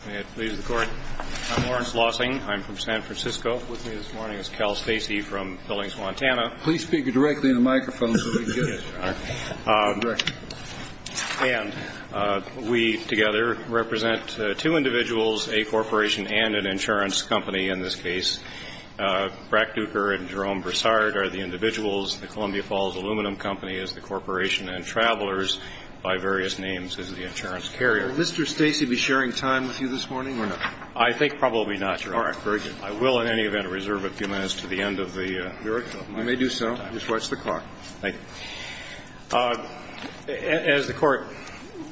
I'm Lawrence Lossing. I'm from San Francisco. With me this morning is Cal Stacey from Billings, Montana. Please speak directly into the microphone so we can get it. And we together represent two individuals, a corporation and an insurance company in this case. Brack Duker and Jerome Broussard are the individuals. The Columbia Falls Aluminum Company is the corporation. And Travelers, by various names, is the insurance carrier. Would Mr. Stacey be sharing time with you this morning or not? I think probably not, Your Honor. All right. Very good. I will, in any event, reserve a few minutes to the end of the microphone. You may do so. Just watch the clock. Thank you. As the Court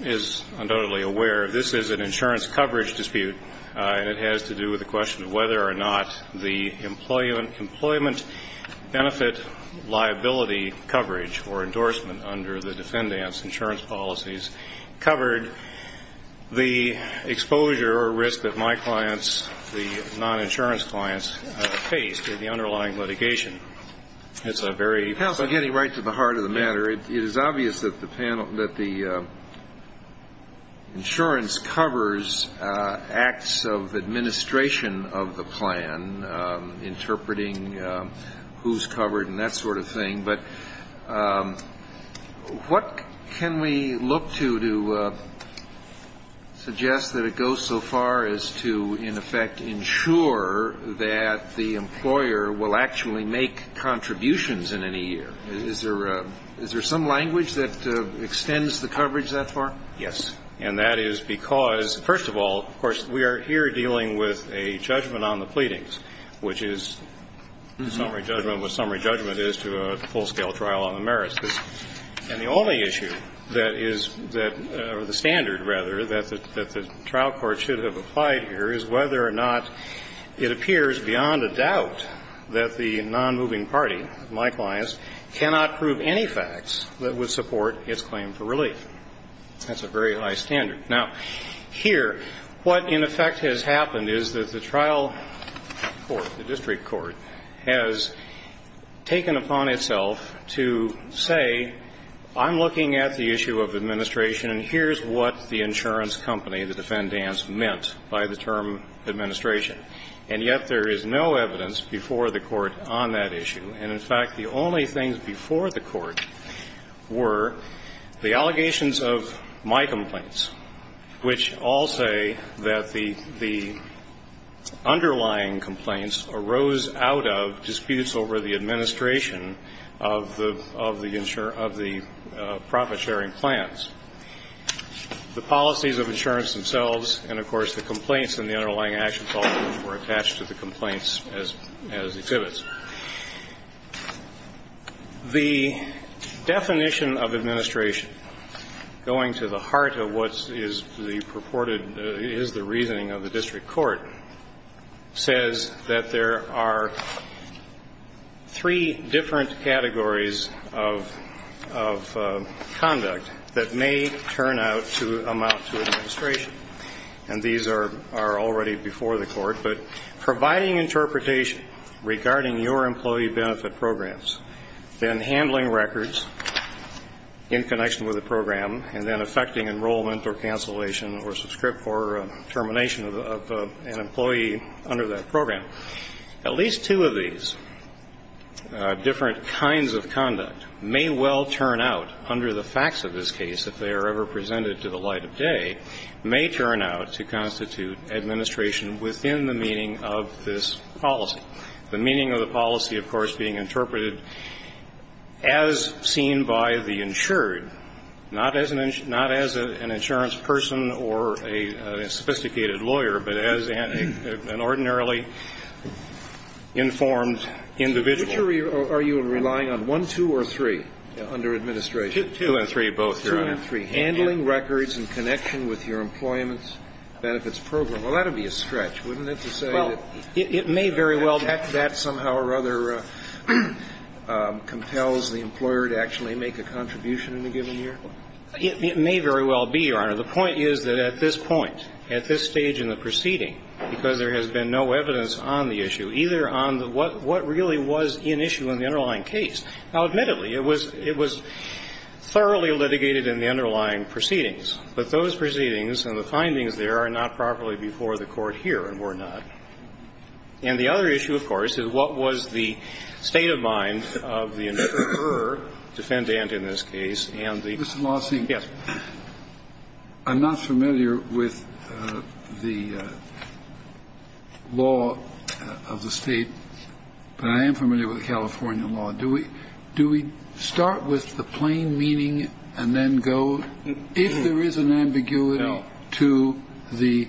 is undoubtedly aware, this is an insurance coverage dispute, and it has to do with the question of whether or not the employment benefit liability coverage or endorsement under the defendant's insurance policies covered the exposure or risk that my clients, the non-insurance clients, faced in the underlying litigation. It's a very- Counsel, getting right to the heart of the matter, it is obvious that the panel, that the insurance covers acts of administration of the plan, interpreting who's covered and that sort of thing, but what can we look to to suggest that it goes so far as to, in effect, ensure that the employer will actually make contributions in any year? Is there some language that extends the coverage that far? Yes. And that is because, first of all, of course, we are here dealing with a judgment on the pleadings, which is summary judgment, what summary judgment is to a full-scale trial on the merits. And the only issue that is that or the standard, rather, that the trial court should have applied here is whether or not it appears beyond a doubt that the nonmoving party, my clients, cannot prove any facts that would support its claim for relief. That's a very high standard. Now, here, what in effect has happened is that the trial court, the district court, has taken upon itself to say, I'm looking at the issue of administration and here's what the insurance company, the defendants, meant by the term administration. And yet there is no evidence before the Court on that issue. And in fact, the only things before the Court were the allegations of my complaints, which all say that the underlying complaints arose out of disputes over the administration of the profit-sharing plans. The policies of insurance themselves and, of course, the complaints and the underlying action policies were attached to the complaints as exhibits. The definition of administration, going to the heart of what is the purported is the reasoning of the district court, says that there are three different categories of conduct that may turn out to amount to administration, and these are already before the Court, but providing interpretation regarding your employee benefit programs, then handling records in connection with the program, and then effecting enrollment or cancellation or termination of an employee under that program. At least two of these different kinds of conduct may well turn out, under the facts of this case, if they are ever presented to the light of day, may turn out to constitute administration within the meaning of this policy, the meaning of the policy, of course, being interpreted as seen by the insured, not as an insurance person or a sophisticated lawyer, but as an ordinarily informed individual. Are you relying on one, two, or three under administration? Two and three, both, Your Honor. Two and three. Handling records in connection with your employment benefits program. Well, that would be a stretch, wouldn't it, to say that that somehow or other compels the employer to actually make a contribution in a given year? It may very well be, Your Honor. The point is that at this point, at this stage in the proceeding, because there has been no evidence on the issue, either on what really was in issue in the underlying case. Now, admittedly, it was thoroughly litigated in the underlying proceedings, but those proceedings and the findings there are not properly before the Court here and were not. And the other issue, of course, is what was the state of mind of the insurer, defendant in this case, and the lawsuit. Mr. Lawson, I'm not familiar with the law of the State, but I am familiar with the California law. Do we start with the plain meaning and then go, if there is an ambiguity to the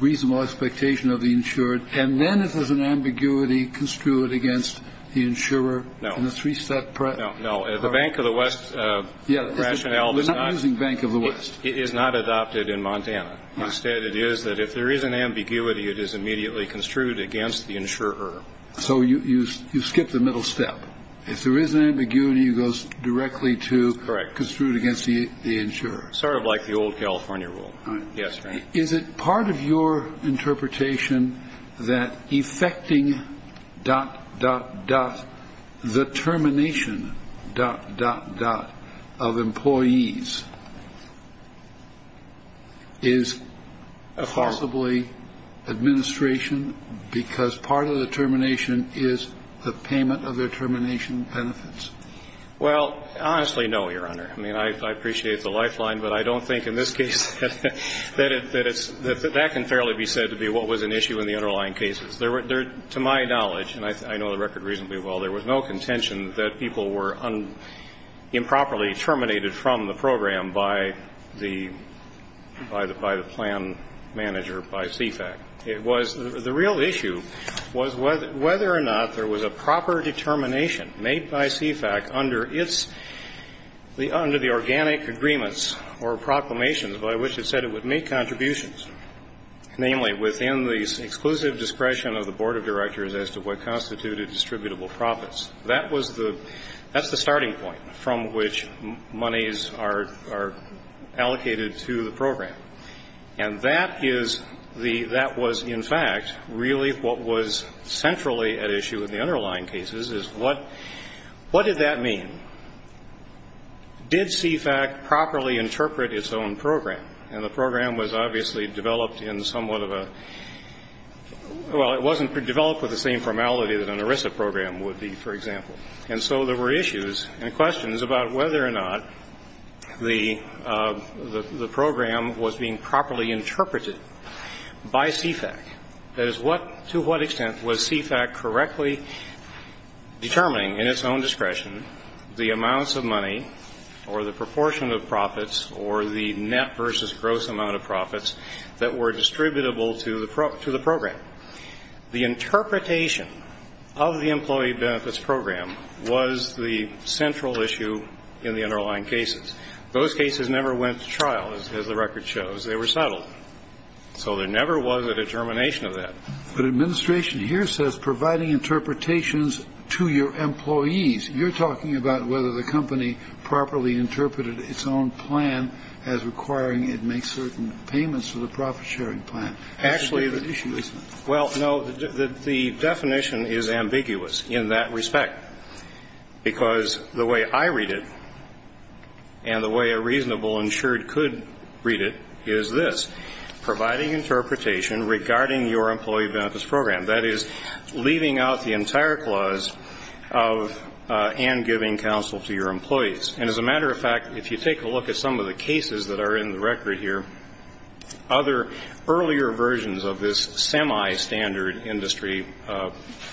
reasonable expectation of the insured, and then if there's an ambiguity, construe it against the insurer in a three-step process? No, no. The Bank of the West rationale is not adopted in Montana. Instead, it is that if there is an ambiguity, it is immediately construed against the insurer. So you skip the middle step. If there is an ambiguity, it goes directly to construe it against the insurer. Correct. Sort of like the old California rule. Yes. Is it part of your interpretation that effecting dot, dot, dot, the termination dot, dot, dot of employees is possibly administration because part of the termination is the payment of their termination benefits? Well, honestly, no, Your Honor. I mean, I appreciate the lifeline, but I don't think in this case that it's – that can fairly be said to be what was an issue in the underlying cases. To my knowledge, and I know the record reasonably well, there was no contention that people were improperly terminated from the program by the plan manager, by CFAC. It was – the real issue was whether or not there was a proper determination made by CFAC under its – under the organic agreements or proclamations by which it said it would make contributions, namely within the exclusive discretion of the board of directors as to what constituted distributable profits. That was the – that's the starting point from which monies are allocated to the program. And that is the – that was, in fact, really what was centrally at issue in the underlying cases is what – what did that mean? Did CFAC properly interpret its own program? And the program was obviously developed in somewhat of a – well, it wasn't developed with the same formality that an ERISA program would be, for example. And so there were issues and questions about whether or not the – the program was being properly interpreted by CFAC. That is, what – to what extent was CFAC correctly determining in its own discretion the amounts of money or the proportion of profits or the net versus gross amount of profits that were distributable to the – to the program? The interpretation of the employee benefits program was the central issue in the underlying cases. Those cases never went to trial, as the record shows. They were settled. So there never was a determination of that. But administration here says providing interpretations to your employees. You're talking about whether the company properly interpreted its own plan as requiring it make certain payments to the profit-sharing plan. Actually, well, no, the definition is ambiguous in that respect, because the way I read it and the way a reasonable insured could read it is this, providing interpretation regarding your employee benefits program. That is, leaving out the entire clause of – and giving counsel to your employees. And as a matter of fact, if you take a look at some of the cases that are in the record here, other earlier versions of this semi-standard industry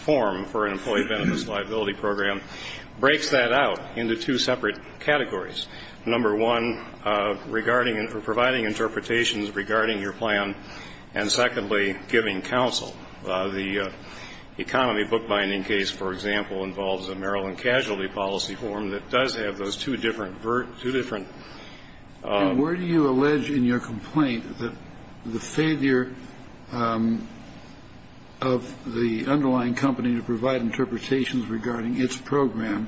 form for an employee benefits liability program breaks that out into two separate categories. Number one, regarding – providing interpretations regarding your plan, and secondly, giving counsel. The economy bookbinding case, for example, involves a Maryland casualty policy form that does have those two different – two different – And where do you allege in your complaint that the failure of the underlying company to provide interpretations regarding its program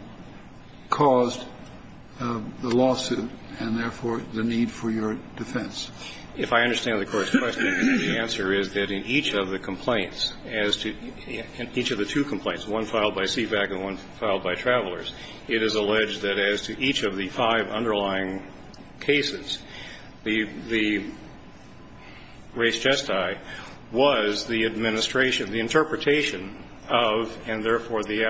caused the lawsuit and therefore the need for your defense? If I understand the Court's question, the answer is that in each of the complaints as to – in each of the two complaints, one filed by CVAC and one filed by Travelers, it is alleged that as to each of the five underlying cases, the – the res gestae was the administration – the interpretation of and therefore the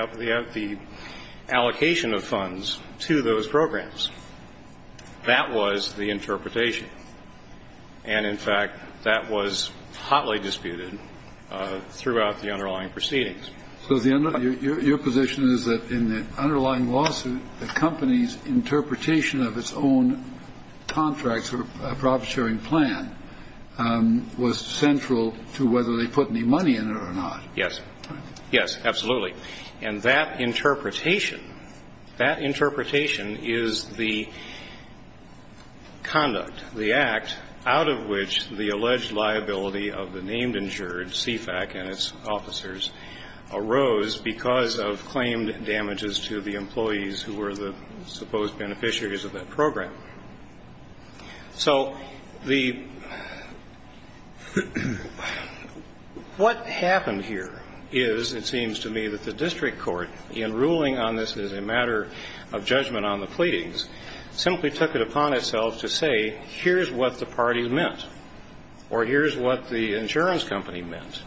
allocation of funds to those programs. That was the interpretation. And in fact, that was hotly disputed throughout the underlying proceedings. So the – your position is that in the underlying lawsuit, the company's interpretation of its own contracts or profit-sharing plan was central to whether they put any money in it or not. Yes. Yes, absolutely. And that interpretation – that interpretation is the conduct, the act out of which the alleged liability of the named insured, CVAC and its officers, arose because of claimed damages to the employees who were the supposed beneficiaries of that program. So the – what happened here is, it seems to me, that the district court, in ruling on this as a matter of judgment on the pleadings, simply took it upon itself to say, here's what the parties meant, or here's what the insurance company meant.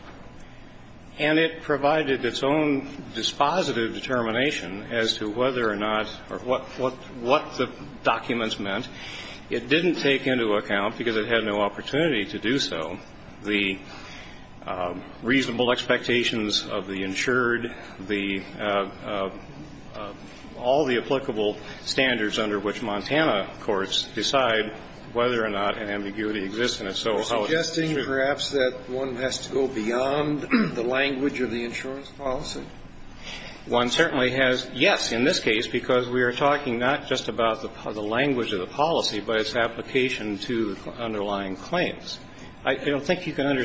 And it provided its own dispositive determination as to whether or not – or what the documents meant. It didn't take into account, because it had no opportunity to do so, the reasonable expectations of the insured, the – all the applicable standards under which Montana courts decide whether or not an ambiguity exists. And if so, how would it be treated? So you're suggesting, perhaps, that one has to go beyond the language of the insurance policy? One certainly has – yes, in this case, because we are talking not just about the language of the policy, but its application to the underlying claims. I don't think you can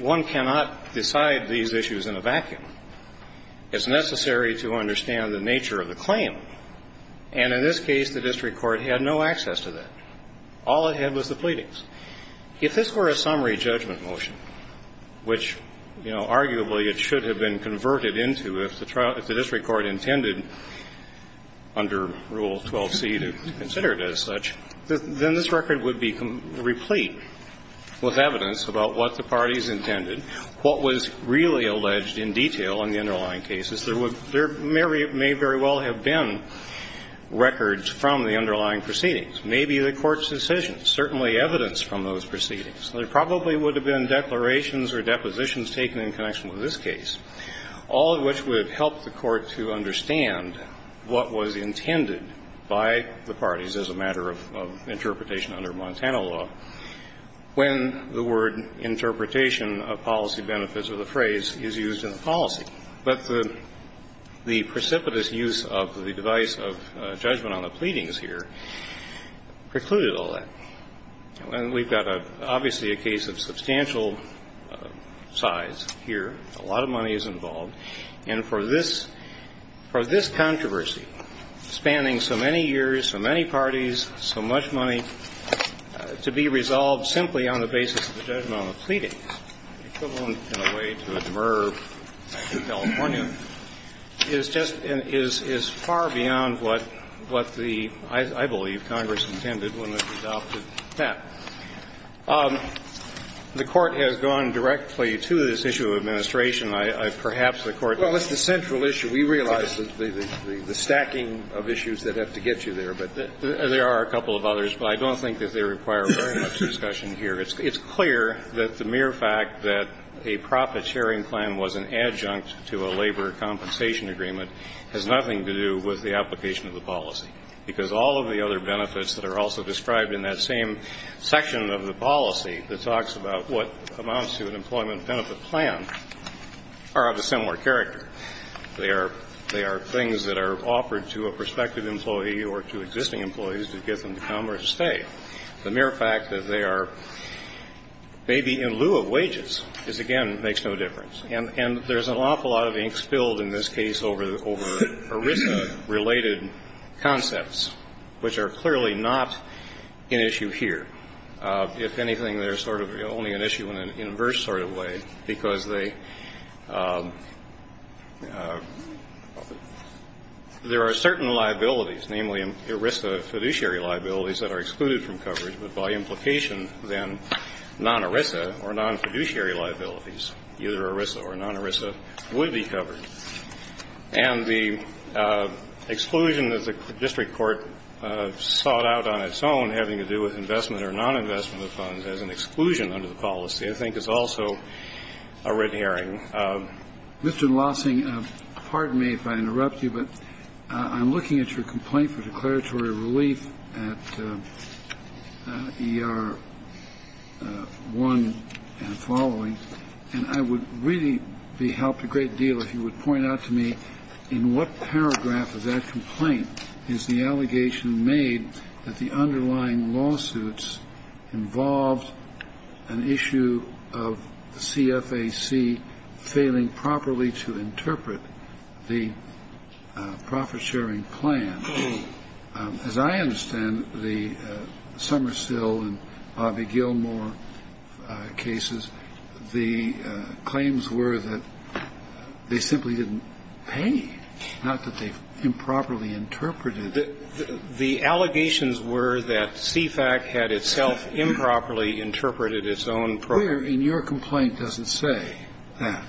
– one cannot decide these issues in a vacuum. It's necessary to understand the nature of the claim. And in this case, the district court had no access to that. All it had was the pleadings. If this were a summary judgment motion, which, you know, arguably it should have been converted into if the district court intended, under Rule 12c, to consider it as such, then this record would be replete with evidence about what the parties intended, what was really alleged in detail in the underlying cases. There would – there may very well have been records from the underlying proceedings, maybe the court's decisions, certainly evidence from those proceedings. There probably would have been declarations or depositions taken in connection with this case, all of which would have helped the court to understand what was intended by the parties as a matter of interpretation under Montana law when the word interpretation of policy benefits or the phrase is used in the policy. But the precipitous use of the device of judgment on the pleadings here precluded all that. And we've got, obviously, a case of substantial size here. A lot of money is involved. And for this – for this controversy, spanning so many years, so many parties, so much money, to be resolved simply on the basis of the judgment on the pleadings is equivalent in a way to a demurr in California, is just – is far beyond what the, I believe, Congress intended when it adopted that. The Court has gone directly to this issue of administration. I – perhaps the Court can – Well, it's the central issue. We realize the stacking of issues that have to get you there. But there are a couple of others, but I don't think that they require very much discussion here. It's clear that the mere fact that a profit-sharing plan was an adjunct to a labor compensation agreement has nothing to do with the application of the policy, because all of the other benefits that are also described in that same section of the policy that talks about what amounts to an employment benefit plan are of a similar character. They are – they are things that are offered to a prospective employee or to existing employees to get them to come or to stay. The mere fact that they are maybe in lieu of wages is, again, makes no difference. And there's an awful lot of ink spilled in this case over ERISA-related concepts, which are clearly not an issue here. If anything, they're sort of only an issue in an inverse sort of way, because they – there are certain liabilities, namely ERISA fiduciary liabilities, that are excluded from coverage, but by implication, then, non-ERISA or non-fiduciary liabilities, either ERISA or non-ERISA, would be covered. And the exclusion, as the district court sought out on its own, having to do with investment or non-investment of funds as an exclusion under the policy, I think, is also a red herring. Mr. Lossing, pardon me if I interrupt you, but I'm looking at your complaint for declaratory relief at ER1 and following, and I would really be helped a great deal if you would point out to me in what paragraph of that complaint is the allegation made that the underlying lawsuits involved an issue of CFAC failing properly to interpret the profit-sharing plan. As I understand the Somersill and Bobby Gilmore cases, the claims were that they simply didn't pay, not that they improperly interpreted it. The allegations were that CFAC had itself improperly interpreted its own program. Where in your complaint does it say that?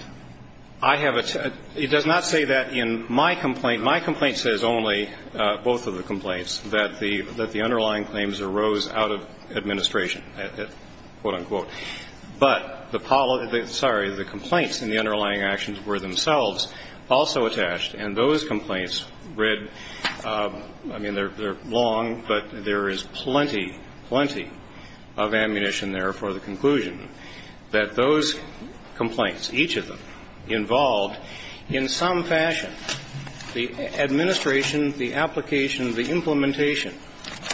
I have attached – it does not say that in my complaint. My complaint says only, both of the complaints, that the underlying claims arose out of administration, quote, unquote. But the – sorry, the complaints in the underlying actions were themselves also attached, and those complaints read – I mean, they're long, but there is plenty, plenty of ammunition there for the conclusion that those complaints, each of them, involved in some fashion the administration, the application, the implementation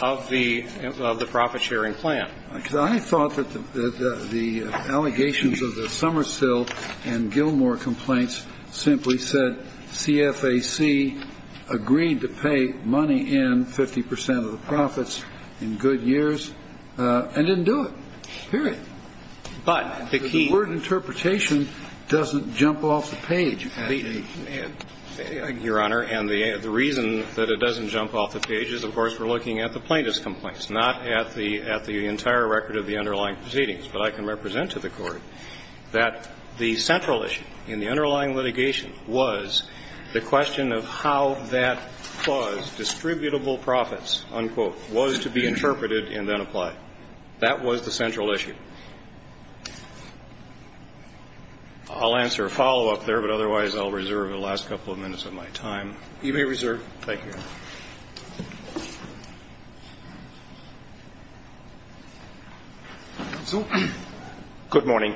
of the – of the profit-sharing plan. Because I thought that the allegations of the Somersill and Gilmore complaints simply said CFAC agreed to pay money in, 50 percent of the profits, in good years and didn't do it, period. But the key – The word interpretation doesn't jump off the page. Your Honor, and the reason that it doesn't jump off the page is, of course, we're proceedings, but I can represent to the Court that the central issue in the underlying litigation was the question of how that clause, distributable profits, unquote, was to be interpreted and then applied. That was the central issue. I'll answer a follow-up there, but otherwise I'll reserve the last couple of minutes You may reserve. Thank you, Your Honor. Good morning.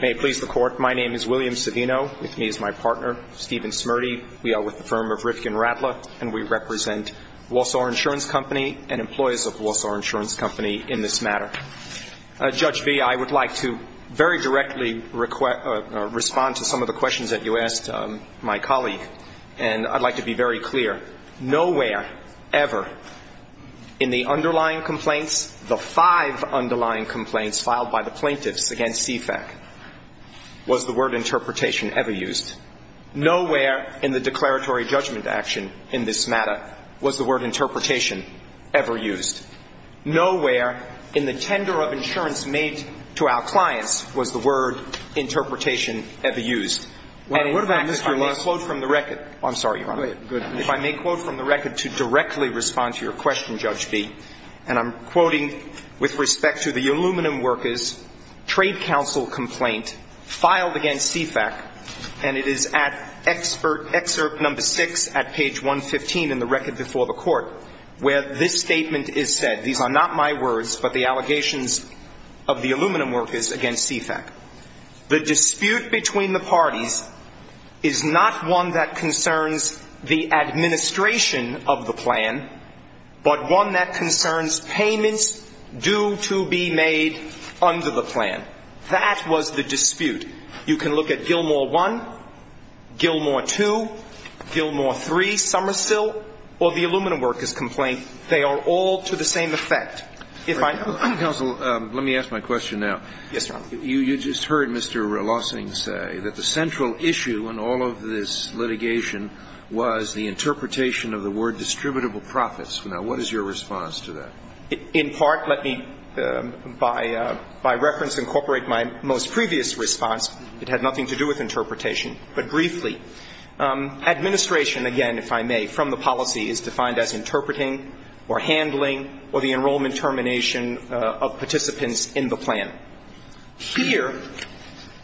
May it please the Court, my name is William Savino. With me is my partner, Stephen Smurdy. We are with the firm of Rifkin-Ratler, and we represent Walsall Insurance Company and employers of Walsall Insurance Company in this matter. Judge B., I would like to very directly respond to some of the questions that you asked my colleague, and I'd like to be very clear. Nowhere ever in the underlying complaints, the five underlying complaints filed by the plaintiffs against CFAC, was the word interpretation ever used. Nowhere in the declaratory judgment action in this matter was the word interpretation ever used. Nowhere in the tender of insurance made to our clients was the word interpretation ever used. If I may quote from the record to directly respond to your question, Judge B., and I'm quoting with respect to the aluminum workers' trade council complaint filed against CFAC, and it is at excerpt number six at page 115 in the record before the Court, where this statement is said. These are not my words, but the allegations of the aluminum workers against CFAC. The dispute between the parties is not one that concerns the administration of the plan, but one that concerns payments due to be made under the plan. That was the dispute. You can look at Gilmore 1, Gilmore 2, Gilmore 3, Somersill, or the aluminum workers' complaint. They are all to the same effect. Counsel, let me ask my question now. Yes, Your Honor. You just heard Mr. Relossing say that the central issue in all of this litigation was the interpretation of the word distributable profits. Now, what is your response to that? In part, let me, by reference, incorporate my most previous response. It had nothing to do with interpretation. But briefly, administration, again, if I may, from the policy is defined as interpreting or handling or the enrollment termination of participants in the plan. Here,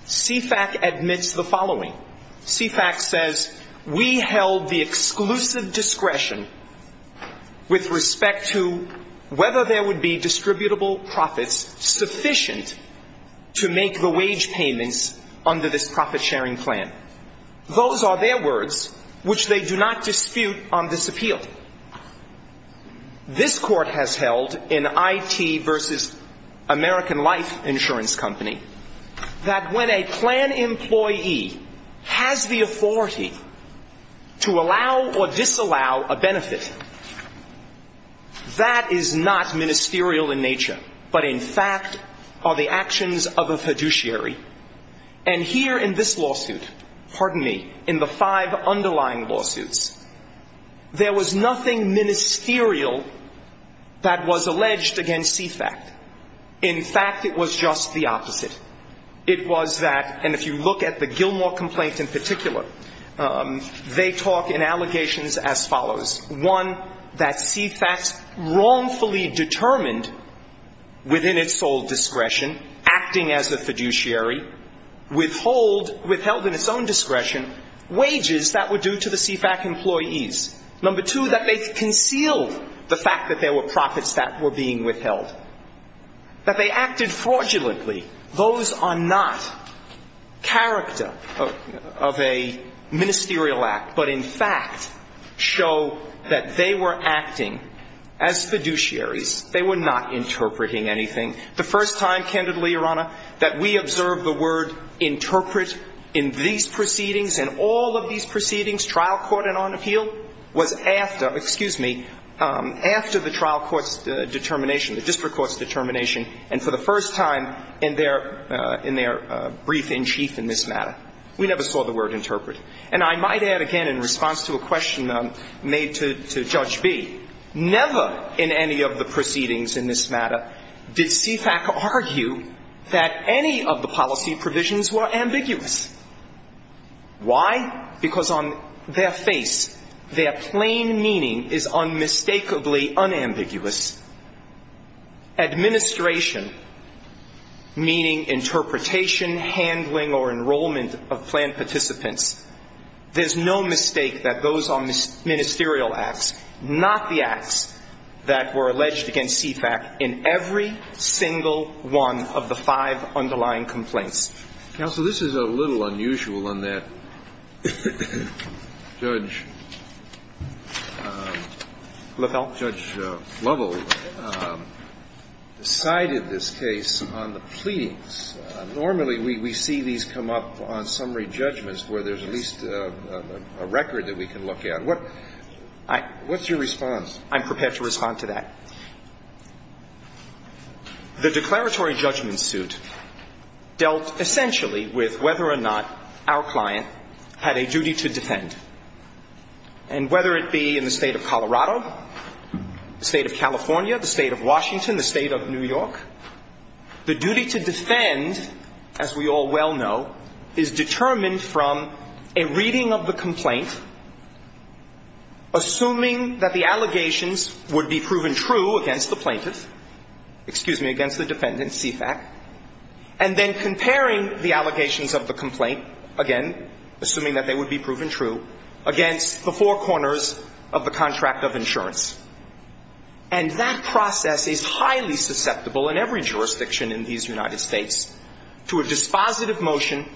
CFAC admits the following. CFAC says we held the exclusive discretion with respect to whether there would be distributable profits sufficient to make the wage payments under this profit-sharing plan. Those are their words, which they do not dispute on this appeal. This Court has held in IT versus American Life Insurance Company that when a plan employee has the authority to allow or disallow a benefit, that is not ministerial in nature, but in fact are the actions of a fiduciary. And here in this lawsuit, pardon me, in the five underlying lawsuits, there was nothing ministerial that was alleged against CFAC. In fact, it was just the opposite. It was that, and if you look at the Gilmore complaint in particular, they talk in allegations as follows. One, that CFAC wrongfully determined within its sole discretion, acting as a fiduciary, withheld in its own discretion wages that were due to the CFAC employees. Number two, that they concealed the fact that there were profits that were being withheld. That they acted fraudulently. Those are not character of a ministerial act, but in fact show that they were acting as fiduciaries. They were not interpreting anything. The first time, candidly, Your Honor, that we observed the word interpret in these proceedings, trial court and on appeal, was after, excuse me, after the trial court's determination, the district court's determination, and for the first time in their brief in chief in this matter. We never saw the word interpret. And I might add again in response to a question made to Judge Bee, never in any of the proceedings in this matter did CFAC argue that any of the policy provisions were ambiguous. Why? Because on their face, their plain meaning is unmistakably unambiguous. Administration, meaning interpretation, handling or enrollment of planned participants, there's no mistake that those are ministerial acts, not the acts that were alleged against CFAC in every single one of the five underlying complaints. Counsel, this is a little unusual in that Judge Lovell decided this case on the pleadings. Normally, we see these come up on summary judgments where there's at least a record that we can look at. What's your response? I'm prepared to respond to that. The declaratory judgment suit dealt essentially with whether or not our client had a duty to defend. And whether it be in the State of Colorado, the State of California, the State of Washington, the State of New York, the duty to defend, as we all well know, is determined from a reading of the complaint, assuming that the allegations would be proven true against the plaintiff, excuse me, against the defendant, CFAC, and then comparing the allegations of the complaint, again, assuming that they would be proven true, against the four corners of the contract of insurance. And that process is highly susceptible in every jurisdiction in these United States to a dispositive motion,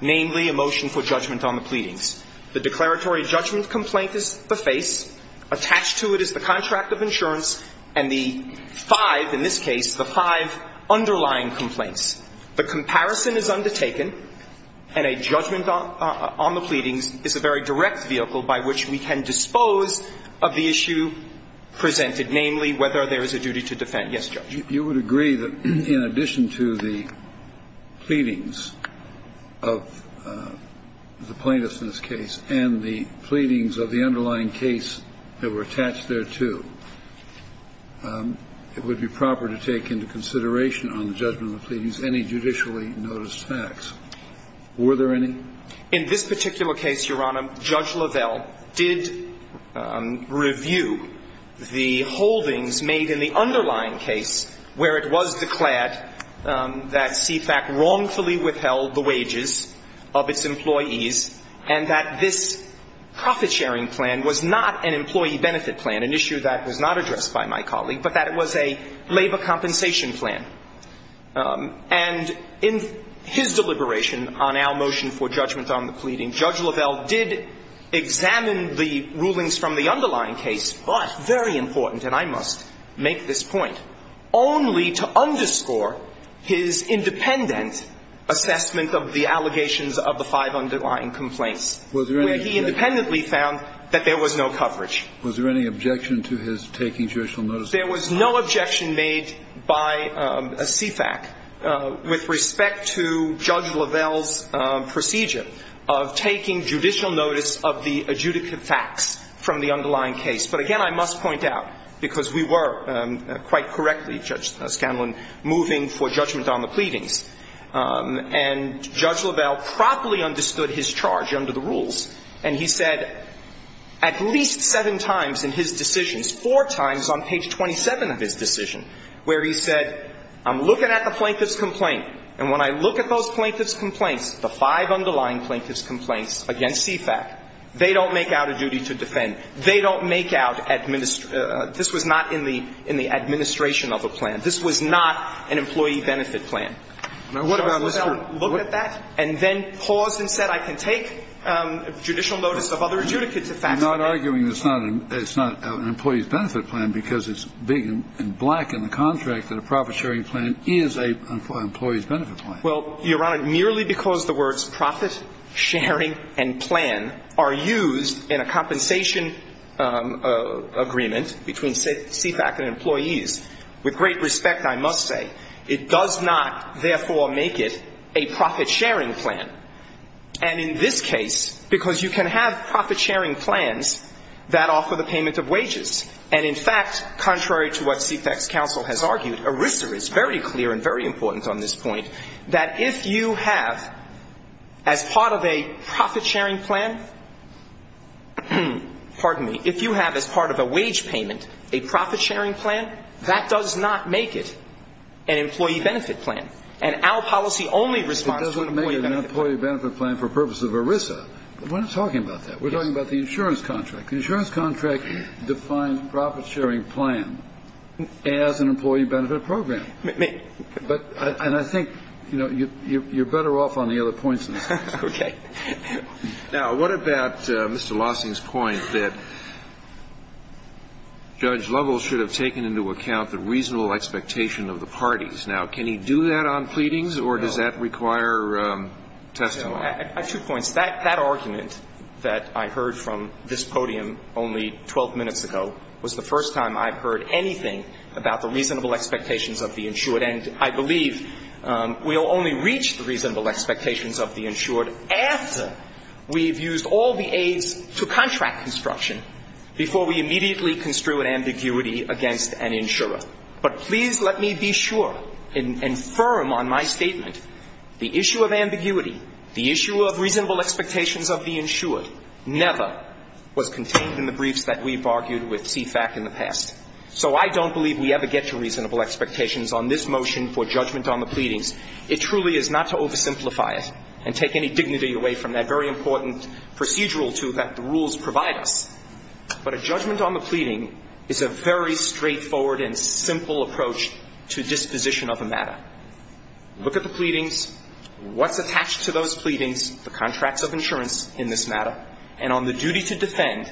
namely a motion for judgment on the pleadings. The declaratory judgment complaint is the face. Attached to it is the contract of insurance and the five, in this case, the five underlying complaints. The comparison is undertaken, and a judgment on the pleadings is a very direct vehicle by which we can dispose of the issue presented, namely whether there is a duty to defend. Yes, Judge. You would agree that in addition to the pleadings of the plaintiff's case and the pleadings of the underlying case that were attached thereto, it would be proper to take into consideration on the judgment of the pleadings any judicially noticed facts. Were there any? In this particular case, Your Honor, Judge Lavelle did review the holdings made in the case where it was declared that CFAC wrongfully withheld the wages of its employees and that this profit-sharing plan was not an employee benefit plan, an issue that was not addressed by my colleague, but that it was a labor compensation plan. And in his deliberation on our motion for judgment on the pleading, Judge Lavelle did examine the rulings from the underlying case, but, very important, and I must make this point, only to underscore his independent assessment of the allegations of the five underlying complaints, where he independently found that there was no coverage. Was there any objection to his taking judicial notice? There was no objection made by CFAC with respect to Judge Lavelle's procedure of taking judicial notice of the adjudicative facts from the underlying case. But, again, I must point out, because we were, quite correctly, Judge Scanlon, moving for judgment on the pleadings, and Judge Lavelle properly understood his charge under the rules, and he said at least seven times in his decisions, four times on page 27 of his decision, where he said, I'm looking at the plaintiff's complaints, the five underlying plaintiff's complaints against CFAC. They don't make out a duty to defend. They don't make out administration. This was not in the administration of a plan. This was not an employee benefit plan. Now, what about this group? Judge Lavelle looked at that and then paused and said, I can take judicial notice of other adjudicative facts. I'm not arguing it's not an employee's benefit plan, because it's big and black in the contract that a profit-sharing plan is an employee's benefit plan. Well, Your Honor, merely because the words profit-sharing and plan are used in a compensation agreement between CFAC and employees, with great respect, I must say, it does not, therefore, make it a profit-sharing plan. And in this case, because you can have profit-sharing plans that offer the payment of wages, and, in fact, contrary to what CFAC's counsel has argued, ERISA is very important on this point, that if you have, as part of a profit-sharing plan, pardon me, if you have, as part of a wage payment, a profit-sharing plan, that does not make it an employee benefit plan. And our policy only responds to an employee benefit plan. It doesn't make it an employee benefit plan for purpose of ERISA. We're not talking about that. We're talking about the insurance contract. The insurance contract defines profit-sharing plan as an employee benefit program. But, and I think, you know, you're better off on the other points than I am. Now, what about Mr. Lawson's point that Judge Lovell should have taken into account the reasonable expectation of the parties? Now, can he do that on pleadings, or does that require testimony? At two points. That argument that I heard from this podium only 12 minutes ago was the first time I've heard anything about the reasonable expectations of the insured. And I believe we'll only reach the reasonable expectations of the insured after we've used all the aids to contract construction before we immediately construe an ambiguity against an insurer. But please let me be sure and firm on my statement. The issue of ambiguity, the issue of reasonable expectations of the insured, never was contained in the briefs that we've argued with CFAC in the past. So I don't believe we ever get to reasonable expectations on this motion for judgment on the pleadings. It truly is not to oversimplify it and take any dignity away from that very important procedural tool that the rules provide us. But a judgment on the pleading is a very straightforward and simple approach to disposition of a matter. Look at the pleadings, what's attached to those pleadings, the contracts of insurance in this matter. And on the duty to defend,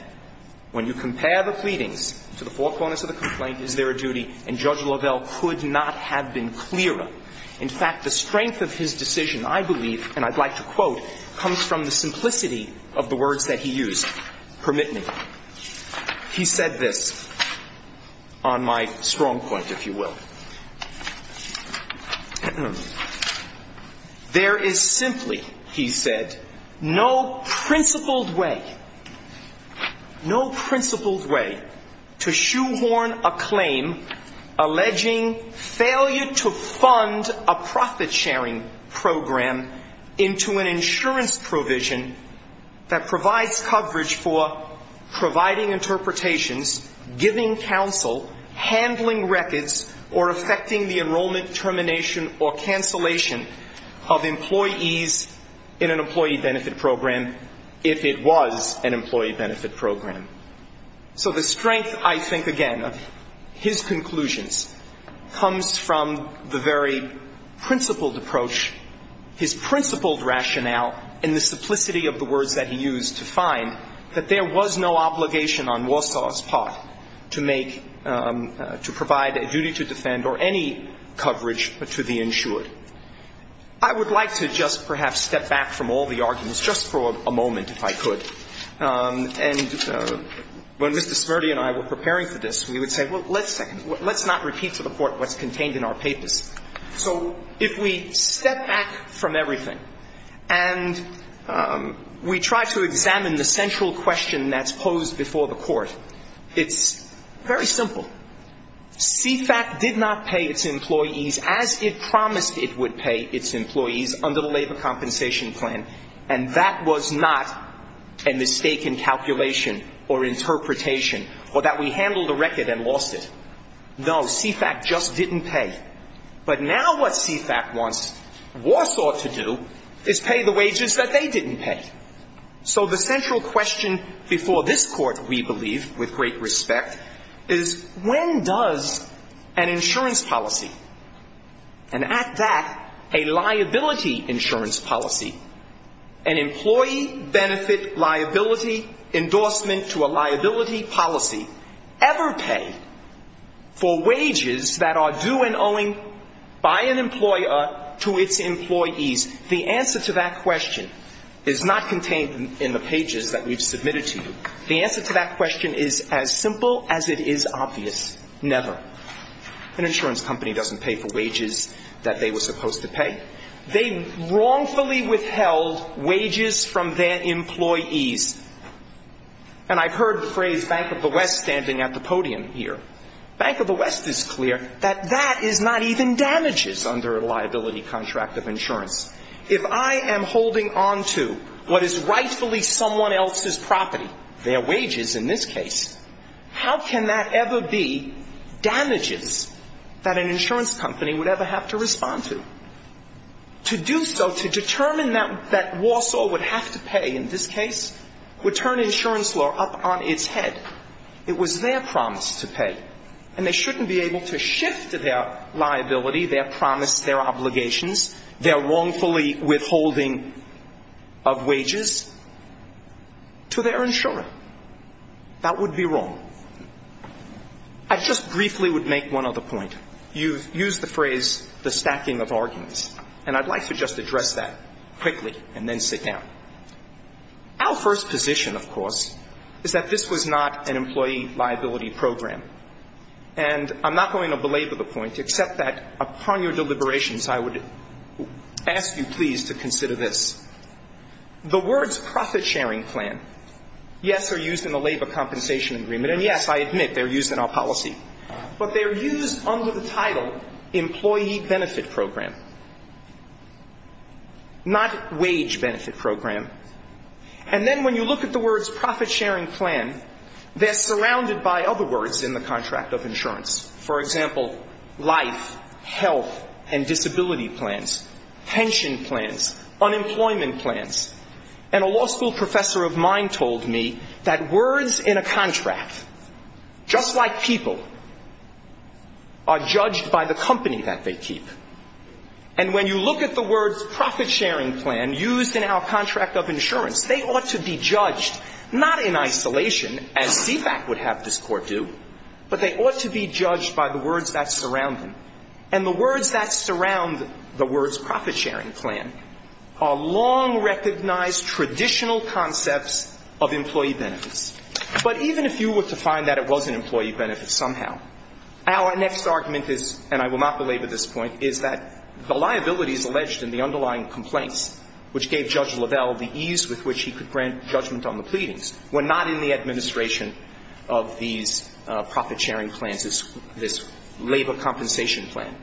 when you compare the pleadings to the four corners of the complaint, is there a duty? And Judge Lovell could not have been clearer. In fact, the strength of his decision, I believe, and I'd like to quote, comes from the simplicity of the words that he used. Permit me. He said this on my strong point, if you will. There is simply, he said, no principled way, no principled way, to shoehorn a claim alleging failure to fund a profit-sharing program into an insurance provision that provides coverage for providing interpretations, giving counsel, handling records, or providing evidence. Or affecting the enrollment, termination, or cancellation of employees in an employee benefit program, if it was an employee benefit program. So the strength, I think, again, of his conclusions, comes from the very principled approach, his principled rationale, and the simplicity of the words that he used to find that there was no obligation on Warsaw's part to make, to provide a duty to defend, to shoehorn a claim. I would like to just perhaps step back from all the arguments, just for a moment, if I could. And when Mr. Smirdy and I were preparing for this, we would say, well, let's not repeat to the Court what's contained in our papers. So if we step back from everything, and we try to examine the central question that's posed before the Court, it's very simple. CFAC did not pay its employees as it promised it would pay its employees under the Labor Compensation Plan, and that was not a mistake in calculation or interpretation, or that we handled the record and lost it. No, CFAC just didn't pay. But now what CFAC wants Warsaw to do is pay the wages that they didn't pay. So the central question before this Court, we believe, with great respect, is when does an insurance policy, and at that, a liability insurance policy, an employee benefit liability endorsement to a liability policy, ever pay for wages that are due and owing by an employer to its employees? The answer to that question is not contained in the pages that we've submitted to you. The answer to that question is as simple as it is obvious, never. An insurance company doesn't pay for wages that they were supposed to pay. They wrongfully withheld wages from their employees. And I've heard the phrase Bank of the West standing at the podium here. Bank of the West is clear that that is not even damages under a liability contract of insurance. If I am holding on to what is rightfully someone else's property, their wages in this case, how can that ever be damages that an insurance company would ever have to respond to? To do so, to determine that Warsaw would have to pay in this case, would turn insurance law up on its head. It was their promise to pay. And they shouldn't be able to shift their liability, their promise, their obligations, their wrongfully withholding of wages to their insurer. That would be wrong. I just briefly would make one other point. You've used the phrase the stacking of arguments, and I'd like to just address that quickly and then sit down. Our first position, of course, is that this was not an employee liability program. And I'm not going to belabor the point, except that upon your deliberations, I would ask you, please, to consider this. The words profit-sharing plan, yes, are used in the labor compensation agreement. And yes, I admit, they're used in our policy. But they're used under the title employee benefit program, not wage benefit program. And then when you look at the words profit-sharing plan, they're surrounded by other words in the contract of insurance. For example, life, health and disability plans, pension plans, unemployment plans. And a law school professor of mine told me that words in a contract, just like people, are judged by the company that they keep. And when you look at the words profit-sharing plan used in our contract of insurance, they ought to be judged not in isolation, as CFAC would have this court do, but they ought to be judged by the words that surround them. And the words that surround the words profit-sharing plan are long-recognized traditional concepts of employee benefits. But even if you were to find that it was an employee benefit somehow, our next argument is, and I will not belabor this point, is that the liabilities alleged in the underlying complaints, which gave Judge Lavelle the ease with which he could grant judgment on the pleadings, were not in the administration of these profit-sharing plans, this labor compensation plan.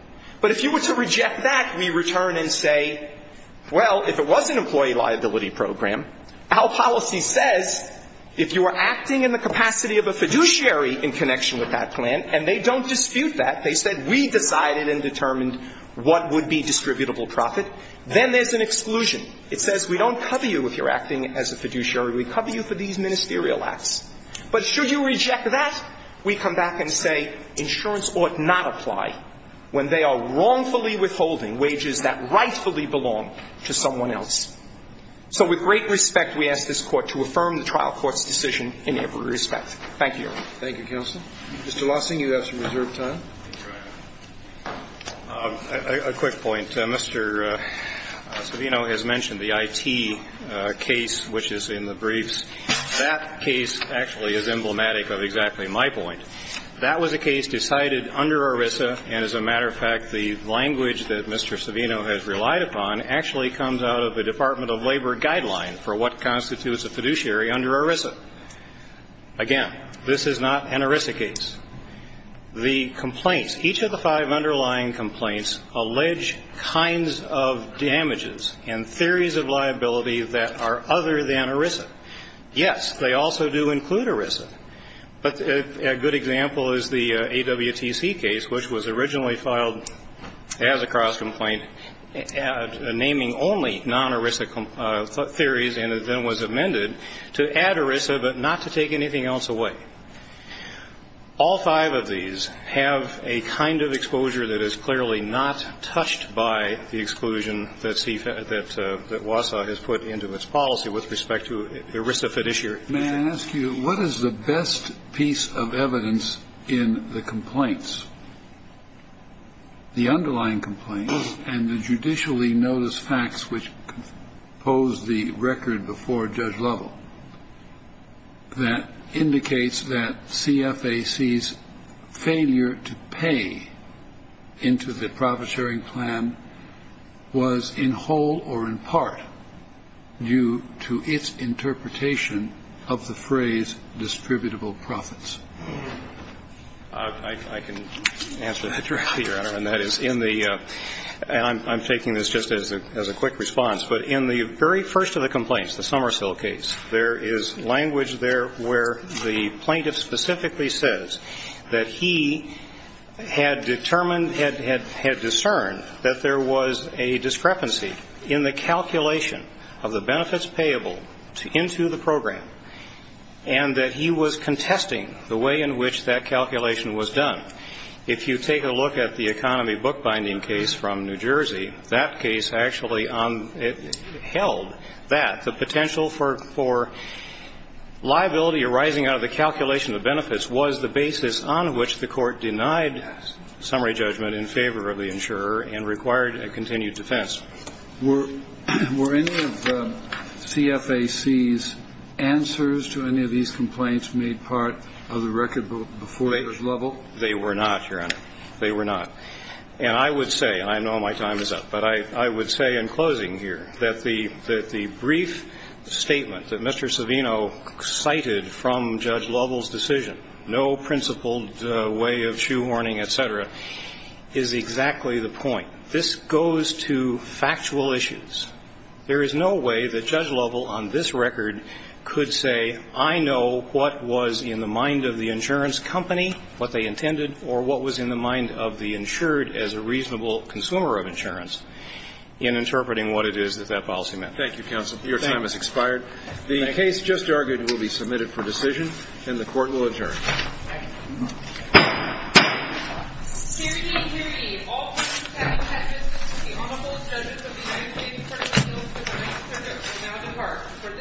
But if you were to reject that, we return and say, well, if it was an employee liability program, our policy says if you are acting in the capacity of a fiduciary in connection with that plan, and they don't dispute that, they said we decided and determined what would be distributable profit, then there's an exclusion. It says we don't cover you if you're acting as a fiduciary. We cover you for these ministerial contracts. But should you reject that, we come back and say insurance ought not apply when they are wrongfully withholding wages that rightfully belong to someone else. So with great respect, we ask this Court to affirm the trial court's decision in every respect. Thank you, Your Honor. Thank you, counsel. Mr. Lawson, you have some reserved time. A quick point. Mr. Savino has mentioned the IT case, which is in the briefs. That case actually is emblematic of exactly my point. That was a case decided under ERISA, and as a matter of fact, the language that Mr. Savino has relied upon actually comes out of the Department of Labor guideline for what constitutes a fiduciary under ERISA. Again, this is not an ERISA case. The complaints, each of the five underlying complaints, allege kinds of damages and theories of liability that are other than ERISA. Yes, they also do include ERISA. But a good example is the AWTC case, which was originally filed as a cross complaint, naming only non-ERISA theories, and then was amended to add ERISA but not to take anything else away. All five of these have a kind of exposure that is clearly not touched by the exclusion that WASA has put into its policy with respect to ERISA fiduciary. May I ask you, what is the best piece of evidence in the complaints, the underlying complaints, and the judicially noticed facts which pose the record before Judge Lovell that indicates that CFAC's failure to pay into the profiteering plan was in whole or in part due to its interpretation of the phrase distributable profits? I can answer that directly, Your Honor, and that is in the – and I'm taking this just as a quick response. But in the very first of the complaints, the Somersill case, there is language there where the plaintiff specifically says that he had determined, had discerned that there was a discrepancy in the calculation of the benefits payable into the program, and that he was contesting the way in which that calculation was done. If you take a look at the economy bookbinding case from New Jersey, that case actually held that the potential for liability arising out of the calculation of benefits was the basis on which the Court denied summary judgment in favor of the insurer and required a continued defense. Were any of CFAC's answers to any of these complaints made part of the record before Judge Lovell? They were not, Your Honor. They were not. And I would say, and I know my time is up, but I would say in closing here that the no principled way of shoehorning, et cetera, is exactly the point. This goes to factual issues. There is no way that Judge Lovell on this record could say, I know what was in the mind of the insurance company, what they intended, or what was in the mind of the insured as a reasonable consumer of insurance, in interpreting what it is that that policy meant. Thank you, counsel. Your time has expired. The case just argued will be submitted for decision, and the Court will adjourn. Thank you. Hear ye, hear ye. All parties having had business with the Honorable Judges of the United States Courts of Appeals for the Ninth Circuit will now depart. For this Court, the discussion stands adjourned.